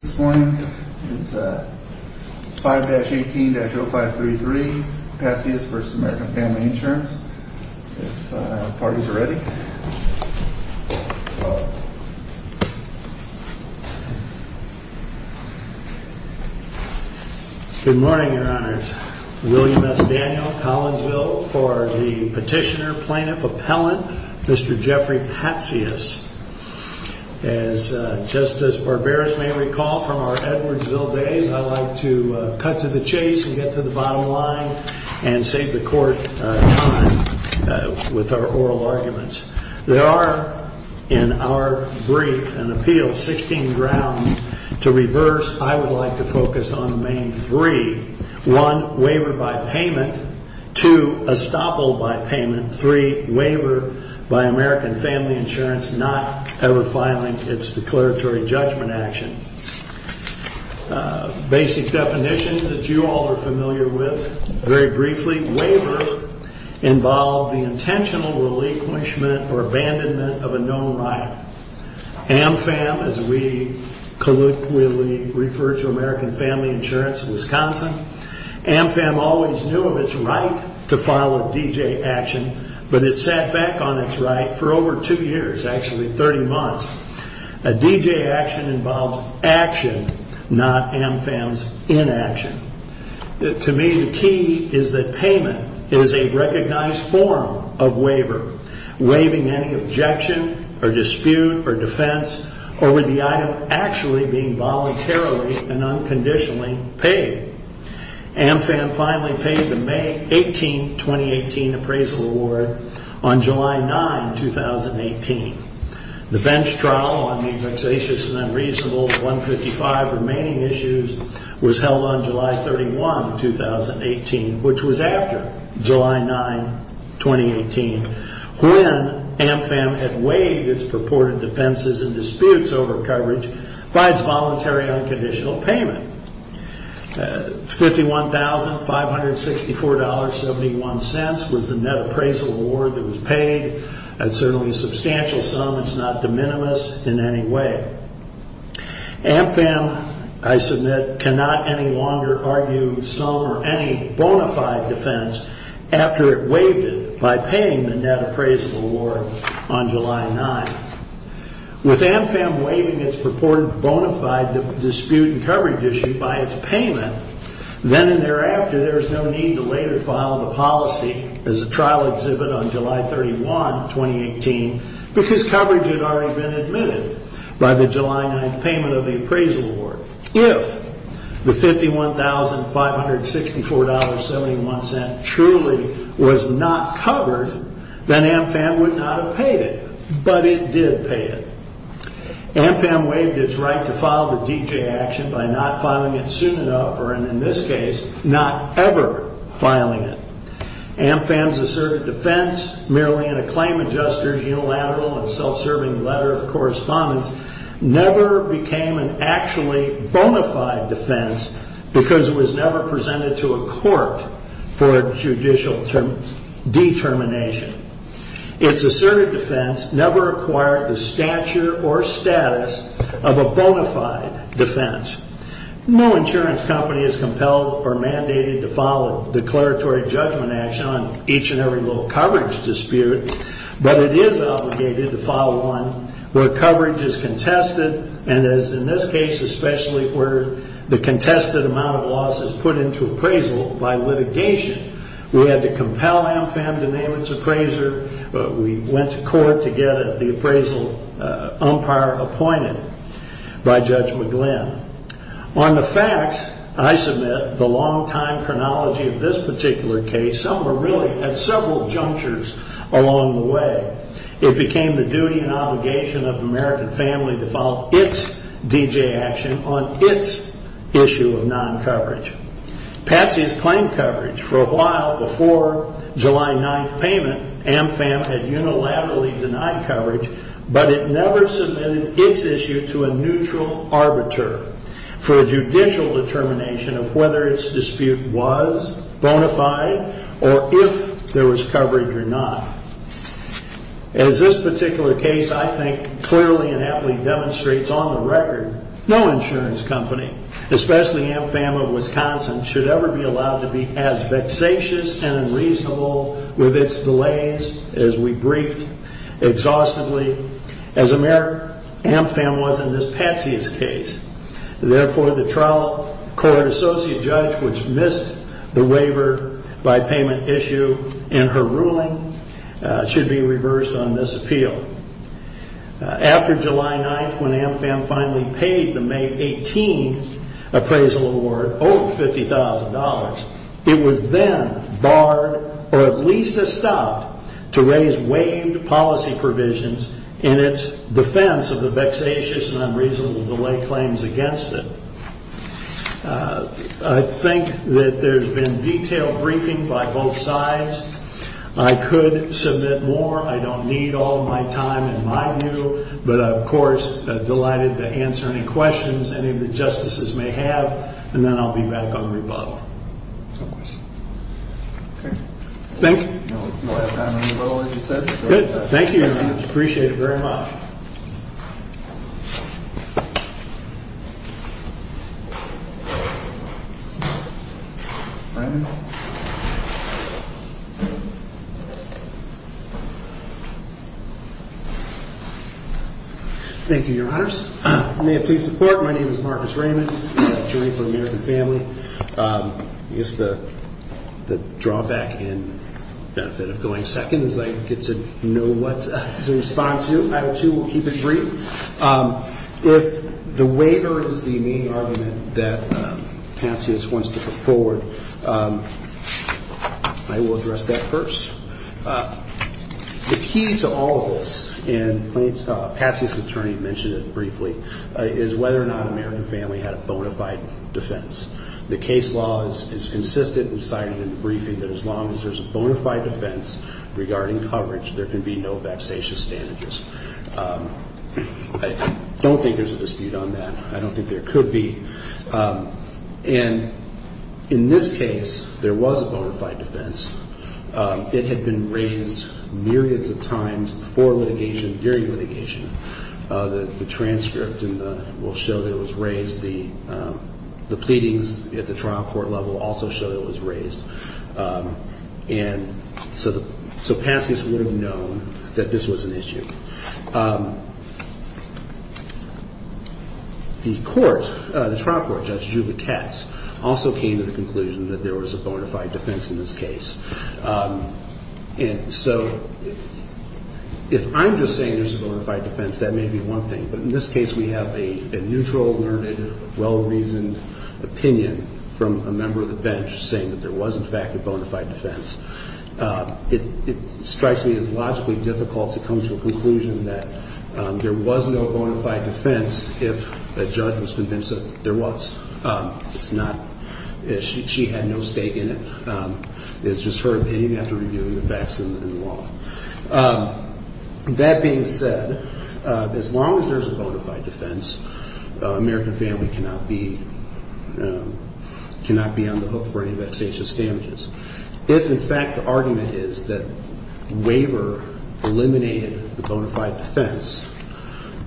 This morning, it's 5-18-0533, Pazzius v. American Family Insurance. If parties are ready, we'll call it. Good morning, your honors. William S. Daniels, Collinsville, for the petitioner, plaintiff, appellant, Mr. Jeffrey Pazzius. As Justice Barberis may recall from our Edwardsville days, I like to cut to the chase and get to the bottom line and save the court time with our oral arguments. There are, in our brief and appeal, 16 grounds to reverse. I would like to focus on the main three. One, waiver by payment. Two, estoppel by payment. Three, waiver by American Family Insurance not ever filing its declaratory judgment action. Basic definition that you all are familiar with. Very briefly, waiver involves the intentional relinquishment or abandonment of a known right. AMFAM, as we colloquially refer to American Family Insurance in Wisconsin, AMFAM always knew of its right to file a D.J. action, but it sat back on its right for over two years, actually 30 months. A D.J. action involves action, not AMFAM's inaction. To me, the key is that payment is a recognized form of waiver, waiving any objection or dispute or defense over the item actually being voluntarily and unconditionally paid. AMFAM finally paid the May 18, 2018 appraisal award on July 9, 2018. The bench trial on the vexatious and unreasonable 155 remaining issues was held on July 31, 2018, which was after July 9, 2018, when AMFAM had waived its purported defenses and disputes over coverage by its voluntary unconditional payment. $51,564.71 was the net appraisal award that was paid. That's certainly a substantial sum. It's not de minimis in any way. AMFAM, I submit, cannot any longer argue some or any bona fide defense after it waived it by paying the net appraisal award on July 9. With AMFAM waiving its purported bona fide dispute and coverage issue by its payment, then and thereafter, there is no need to later file the policy as a trial exhibit on July 31, 2018, because coverage had already been admitted by the July 9 payment of the appraisal award. If the $51,564.71 truly was not covered, then AMFAM would not have paid it. But it did pay it. AMFAM waived its right to file the D.J. action by not filing it soon enough, or in this case, not ever filing it. AMFAM's asserted defense, merely in a claim adjuster's unilateral and self-serving letter of correspondence, never became an actually bona fide defense because it was never presented to a court for judicial determination. Its asserted defense never acquired the stature or status of a bona fide defense. No insurance company is compelled or mandated to file a declaratory judgment action on each and every low coverage dispute, but it is obligated to file one where coverage is contested and, as in this case especially, where the contested amount of loss is put into appraisal by litigation. We had to compel AMFAM to name its appraiser. We went to court to get the appraisal umpire appointed by Judge McGlynn. On the facts, I submit, the long-time chronology of this particular case, some were really at several junctures along the way. It became the duty and obligation of the American family to file its D.J. action on its issue of non-coverage. Patsy's claim coverage, for a while before July 9th payment, AMFAM had unilaterally denied coverage, but it never submitted its issue to a neutral arbiter for a judicial determination of whether its dispute was bona fide or if there was coverage or not. As this particular case, I think, clearly and aptly demonstrates on the record, no insurance company, especially AMFAM of Wisconsin, should ever be allowed to be as vexatious and unreasonable with its delays as we briefed exhaustively. As a matter of fact, AMFAM was in this Patsy's case. Therefore, the trial court associate judge, which missed the waiver by payment issue in her ruling, should be reversed on this appeal. After July 9th, when AMFAM finally paid the May 18th appraisal award, over $50,000, it was then barred or at least stopped to raise waived policy provisions in its defense of the vexatious and unreasonable delay claims against it. I think that there's been detailed briefing by both sides. I could submit more. I don't need all my time in my view, but I'm, of course, delighted to answer any questions any of the justices may have, and then I'll be back on rebuttal. Thank you. Thank you. Appreciate it very much. Thank you, Your Honors. May it please the Court, my name is Marcus Raymond, attorney for American Family. I guess the drawback and benefit of going second is I get to know what to respond to. I, too, will keep it brief. If the waiver is the main argument that Patsy wants to put forward, I will address that first. The key to all of this, and Patsy's attorney mentioned it briefly, is whether or not American Family had a bona fide defense. The case law is consistent and cited in the briefing that as long as there's a bona fide defense regarding coverage, there can be no vexatious damages. I don't think there's a dispute on that. I don't think there could be. And in this case, there was a bona fide defense. It had been raised myriads of times before litigation, during litigation. The transcript will show that it was raised. The pleadings at the trial court level also show that it was raised. And so Patsy's would have known that this was an issue. The court, the trial court, Judge Juba Katz, also came to the conclusion that there was a bona fide defense in this case. And so if I'm just saying there's a bona fide defense, that may be one thing. But in this case, we have a neutral, learned, well-reasoned opinion from a member of the bench saying that there was, in fact, a bona fide defense. It strikes me as logically difficult to come to a conclusion that there was no bona fide defense if a judge was convinced that there was. It's not. She had no stake in it. It's just her opinion after reviewing the facts in the law. That being said, as long as there's a bona fide defense, American family cannot be on the hook for any vexatious damages. If, in fact, the argument is that the waiver eliminated the bona fide defense,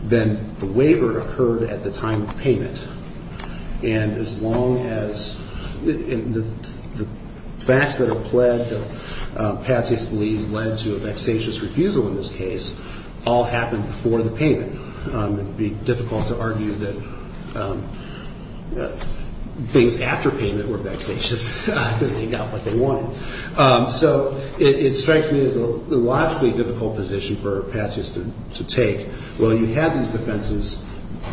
then the waiver occurred at the time of payment. And as long as the facts that are pled that Patsy's believed led to a vexatious refusal in this case all happened before the payment. It would be difficult to argue that things after payment were vexatious because they got what they got. They got what they wanted. So it strikes me as a logically difficult position for Patsy's to take. Well, you have these defenses,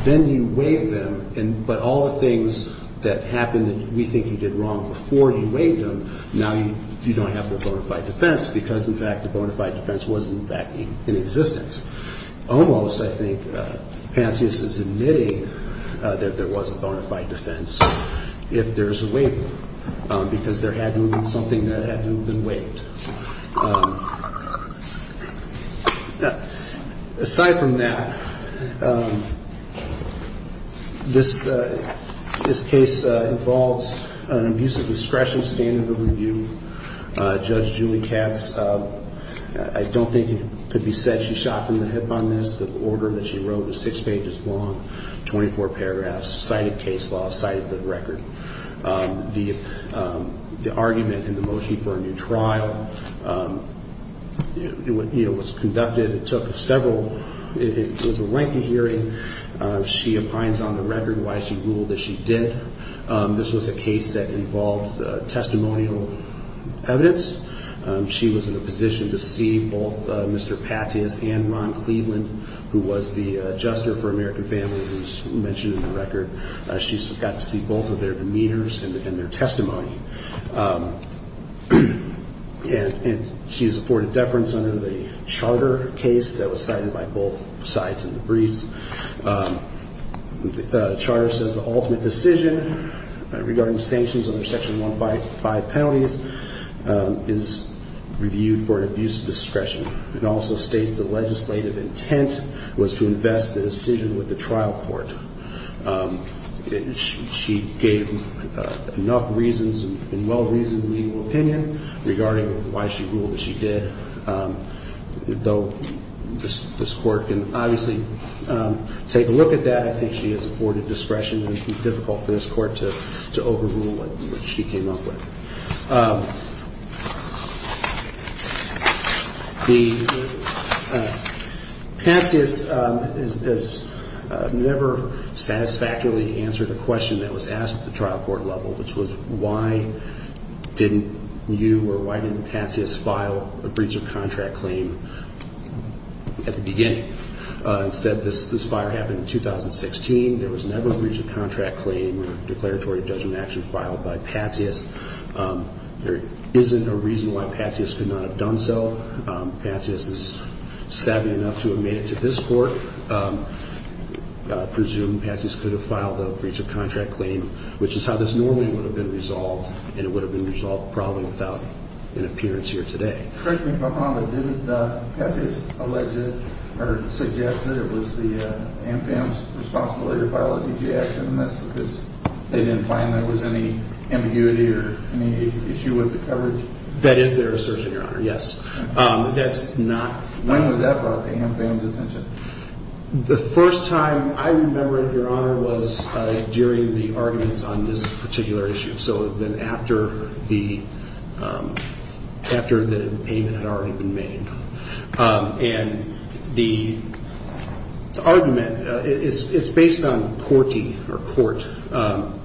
then you waive them, but all the things that happened that we think you did wrong before you waived them, now you don't have the bona fide defense because, in fact, the bona fide defense was, in fact, in existence. Almost, I think, Patsy's is admitting that there was a bona fide defense if there's a waiver, because there had to have been something that had to have been waived. Aside from that, this case involves an abuse of discretion standard of review. Judge Julie Katz, I don't think it could be said she shot from the hip on this. The order that she wrote is six pages long, 24 paragraphs, cited case law, cited the record. The argument in the motion for a new trial, you know, was conducted. It took several ñ it was a lengthy hearing. She opines on the record why she ruled that she did. This was a case that involved testimonial evidence. She was in a position to see both Mr. Patsy's and Ron Cleveland, who was the adjuster for American Family, who is mentioned in the record. She got to see both of their demeanors and their testimony. And she is afforded deference under the charter case that was cited by both sides in the briefs. The charter says the ultimate decision regarding sanctions under Section 155 penalties is reviewed for an abuse of discretion. It also states the legislative intent was to invest the decision with the trial court. She gave enough reasons and well-reasoned legal opinion regarding why she ruled that she did, though this Court can obviously take a look at that. I think she is afforded discretion and it would be difficult for this Court to overrule what she came up with. Patsy has never satisfactorily answered a question that was asked at the trial court level, which was why didn't you or why didn't Patsy file a breach of contract claim at the beginning? Instead, this fire happened in 2016. There was never a breach of contract claim or declaratory judgment action filed by Patsy. There isn't a reason why Patsy could not have done so. Patsy is savvy enough to have made it to this Court. I presume Patsy could have filed a breach of contract claim, which is how this normally would have been resolved, and it would have been resolved probably without an appearance here today. Correct me if I'm wrong, but didn't Patsy's alleged or suggested it was the AMFAM's responsibility to file a DG action, and that's because they didn't find there was any ambiguity or any issue with the coverage? That is their assertion, Your Honor, yes. When was that brought to AMFAM's attention? The first time I remember it, Your Honor, was during the arguments on this particular issue. So it would have been after the payment had already been made. And the argument, it's based on CORTE,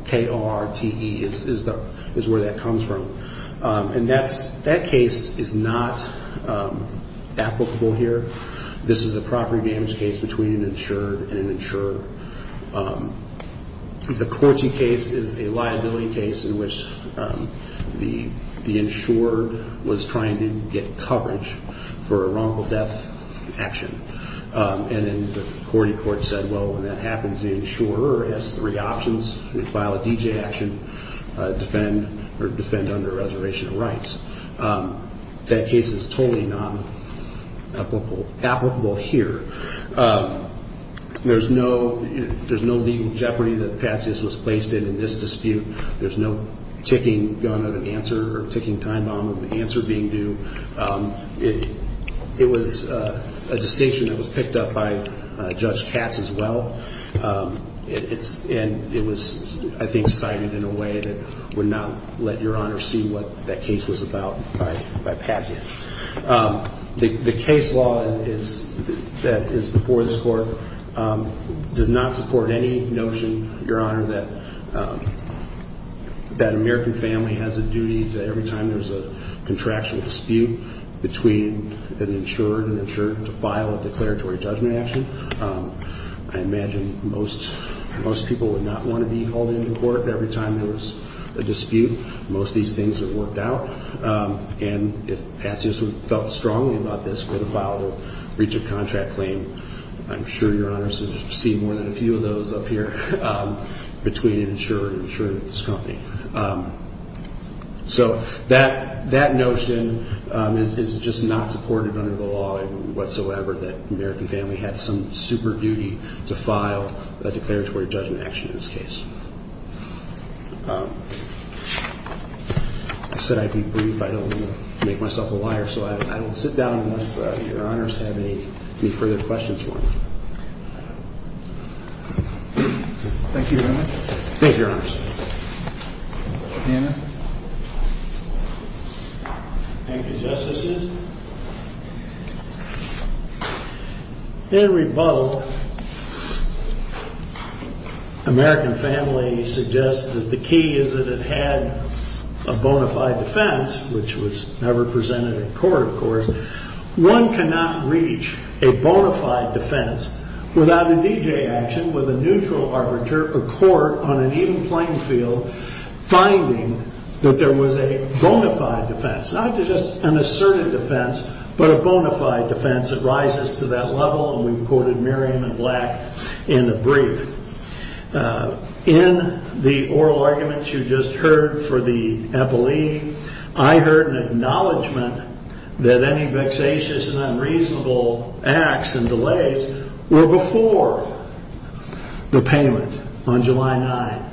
K-O-R-T-E is where that comes from. And that case is not applicable here. This is a property damage case between an insured and an insurer. The CORTE case is a liability case in which the insurer was trying to get coverage for a wrongful death action. And then the CORTE court said, well, when that happens, the insurer has three options. They file a DG action, defend, or defend under reservation of rights. That case is totally not applicable here. There's no legal jeopardy that Patzias was placed in in this dispute. There's no ticking time bomb of an answer being due. It was a distinction that was picked up by Judge Katz as well. And it was, I think, cited in a way that would not let Your Honor see what that case was about by Patzias. The case law that is before this Court does not support any notion, Your Honor, that American family has a duty to every time there's a contractual dispute between an insured and an insurer to file a declaratory judgment action. I imagine most people would not want to be held in the Court every time there was a dispute. Most of these things have worked out. And if Patzias felt strongly about this, he would file a breach of contract claim. I'm sure Your Honor has seen more than a few of those up here between an insurer and an insurance company. So that notion is just not supported under the law whatsoever that American family had some super duty to file a declaratory judgment action in this case. I said I'd be brief. I don't want to make myself a liar. So I will sit down unless Your Honor has any further questions for me. Thank you, Your Honor. Thank you, Justices. In rebuttal, American family suggests that the key is that it had a bona fide defense, which was never presented in court, of course. One cannot reach a bona fide defense without a D.J. action with a neutral arbiter or court on an even playing field finding that there was a bona fide defense, not just an asserted defense. But a bona fide defense that rises to that level. And we recorded Miriam and Black in the brief. In the oral arguments you just heard for the EPLI, I heard an acknowledgement that any vexatious and unreasonable acts and delays were before the payment on July 9.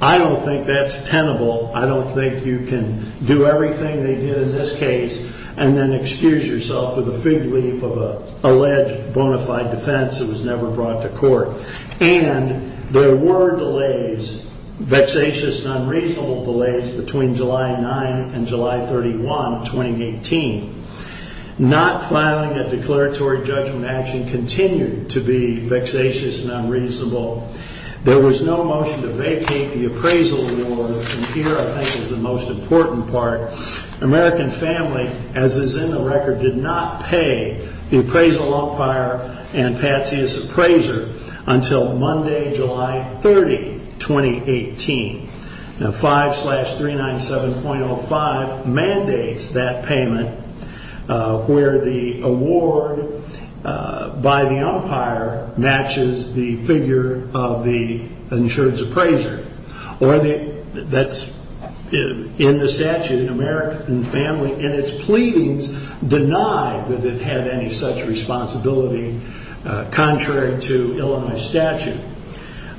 I don't think that's tenable. I don't think you can do everything they did in this case and then excuse yourself with a fig leaf of an alleged bona fide defense that was never brought to court. And there were delays, vexatious and unreasonable delays, between July 9 and July 31, 2018. Not filing a declaratory judgment action continued to be vexatious and unreasonable. There was no motion to vacate the appraisal award. And here, I think, is the most important part. American Family, as is in the record, did not pay the appraisal umpire and Patsy's appraiser until Monday, July 30, 2018. Now 5-397.05 mandates that payment, where the award by the umpire matches the figure of the umpire. Or the figure of the insurance appraiser. In the statute, American Family, in its pleadings, denied that it had any such responsibility contrary to Illinois statute.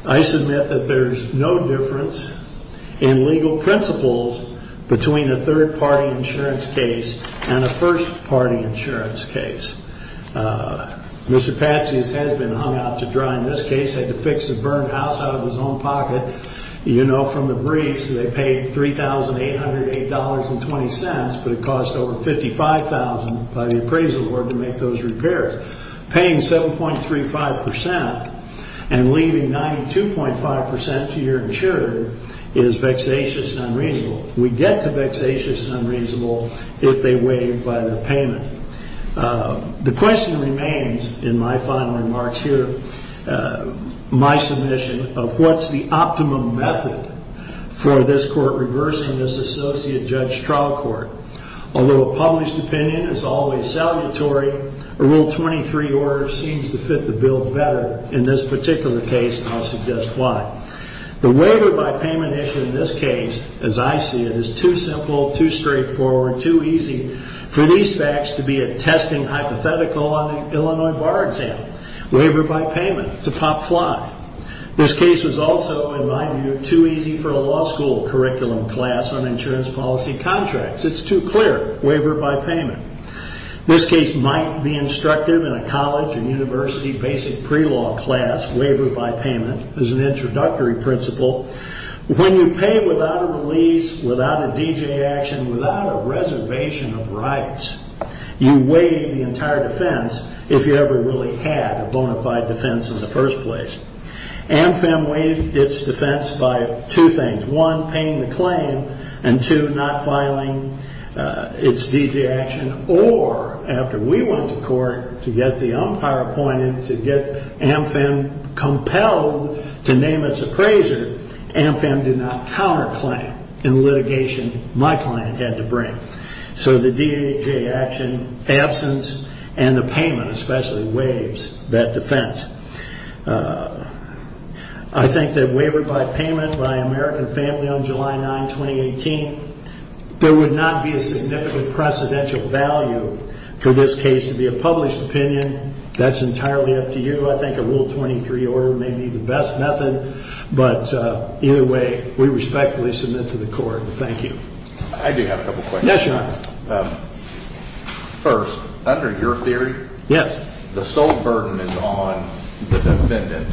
I submit that there's no difference in legal principles between a third-party insurance case and a first-party insurance case. Mr. Patsy's has been hung out to dry in this case. Had to fix a burned house out of his own pocket. You know from the briefs, they paid $3,808.20, but it cost over $55,000 by the appraisal award to make those repairs. Paying 7.35% and leaving 92.5% to your insurer is vexatious and unreasonable. We get to vexatious and unreasonable if they waive by their payment. The question remains, in my final remarks here, my submission of what's the optimum method for this court reversing this associate judge's trial court. Although a published opinion is always salutary, a Rule 23 order seems to fit the bill better in this particular case, and I'll suggest why. The waiver by payment issue in this case, as I see it, is too simple, too straightforward, too easy for these facts to be a testing hypothetical on an Illinois bar example. Waiver by payment, it's a pop fly. This case was also, in my view, too easy for a law school curriculum class on insurance policy contracts. It's too clear, waiver by payment. This case might be instructive in a college or university basic pre-law class. Waiver by payment is an introductory principle. When you pay without a release, without a D.J. action, without a reservation of rights, you waive the entire defense if you ever really had a bona fide defense in the first place. AmFam waived its defense by two things. One, paying the claim, and two, not filing its D.J. action. Or, after we went to court to get the umpire appointed to get AmFam compelled to name its appraiser, AmFam did not counterclaim in litigation my client had to bring. So the D.J. action absence and the payment especially waives that defense. I think that waiver by payment by American Family on July 9, 2018, there would not be a significant precedential value for this case to be a published opinion. That's entirely up to you. I think a Rule 23 order may be the best method, but either way, we respectfully submit to the court. I do have a couple questions. First, under your theory, the sole burden is on the defendant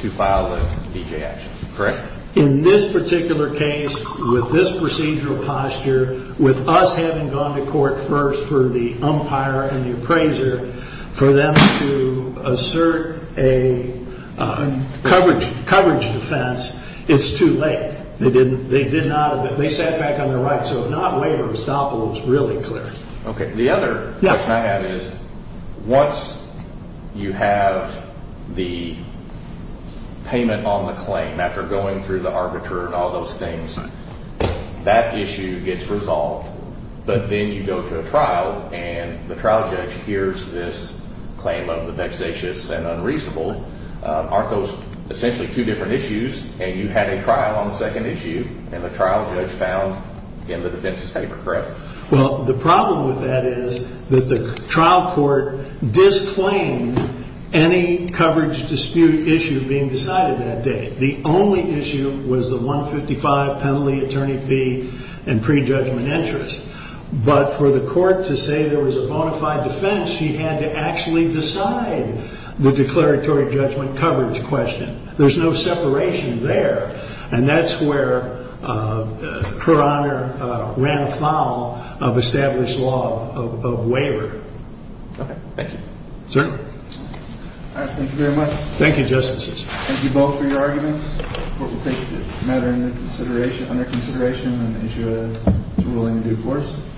to file the D.J. action, correct? In this particular case, with this procedural posture, with us having gone to court first for the umpire and the appraiser, for them to assert a coverage defense, it's too late. They did not. They sat back on their right. So if not waiver, estoppel, it's really clear. The other question I have is, once you have the payment on the claim, after going through the arbiter and all those things, that issue gets resolved. But then you go to a trial, and the trial judge hears this claim of the vexatious and unreasonable. Aren't those essentially two different issues? And you had a trial on the second issue, and the trial judge found in the defense's paper, correct? Well, the problem with that is that the trial court disclaimed any coverage dispute issue being decided that day. The only issue was the 155 penalty attorney fee and prejudgment interest. But for the court to say there was a bona fide defense, he had to actually decide the declaratory judgment coverage question. There's no separation there. And that's where Her Honor ran afoul of established law of waiver. Okay. Thank you. Certainly. All right. Thank you very much. Thank you, Justices. Thank you both for your arguments. The court will take the matter under consideration on the issue of ruling in due course.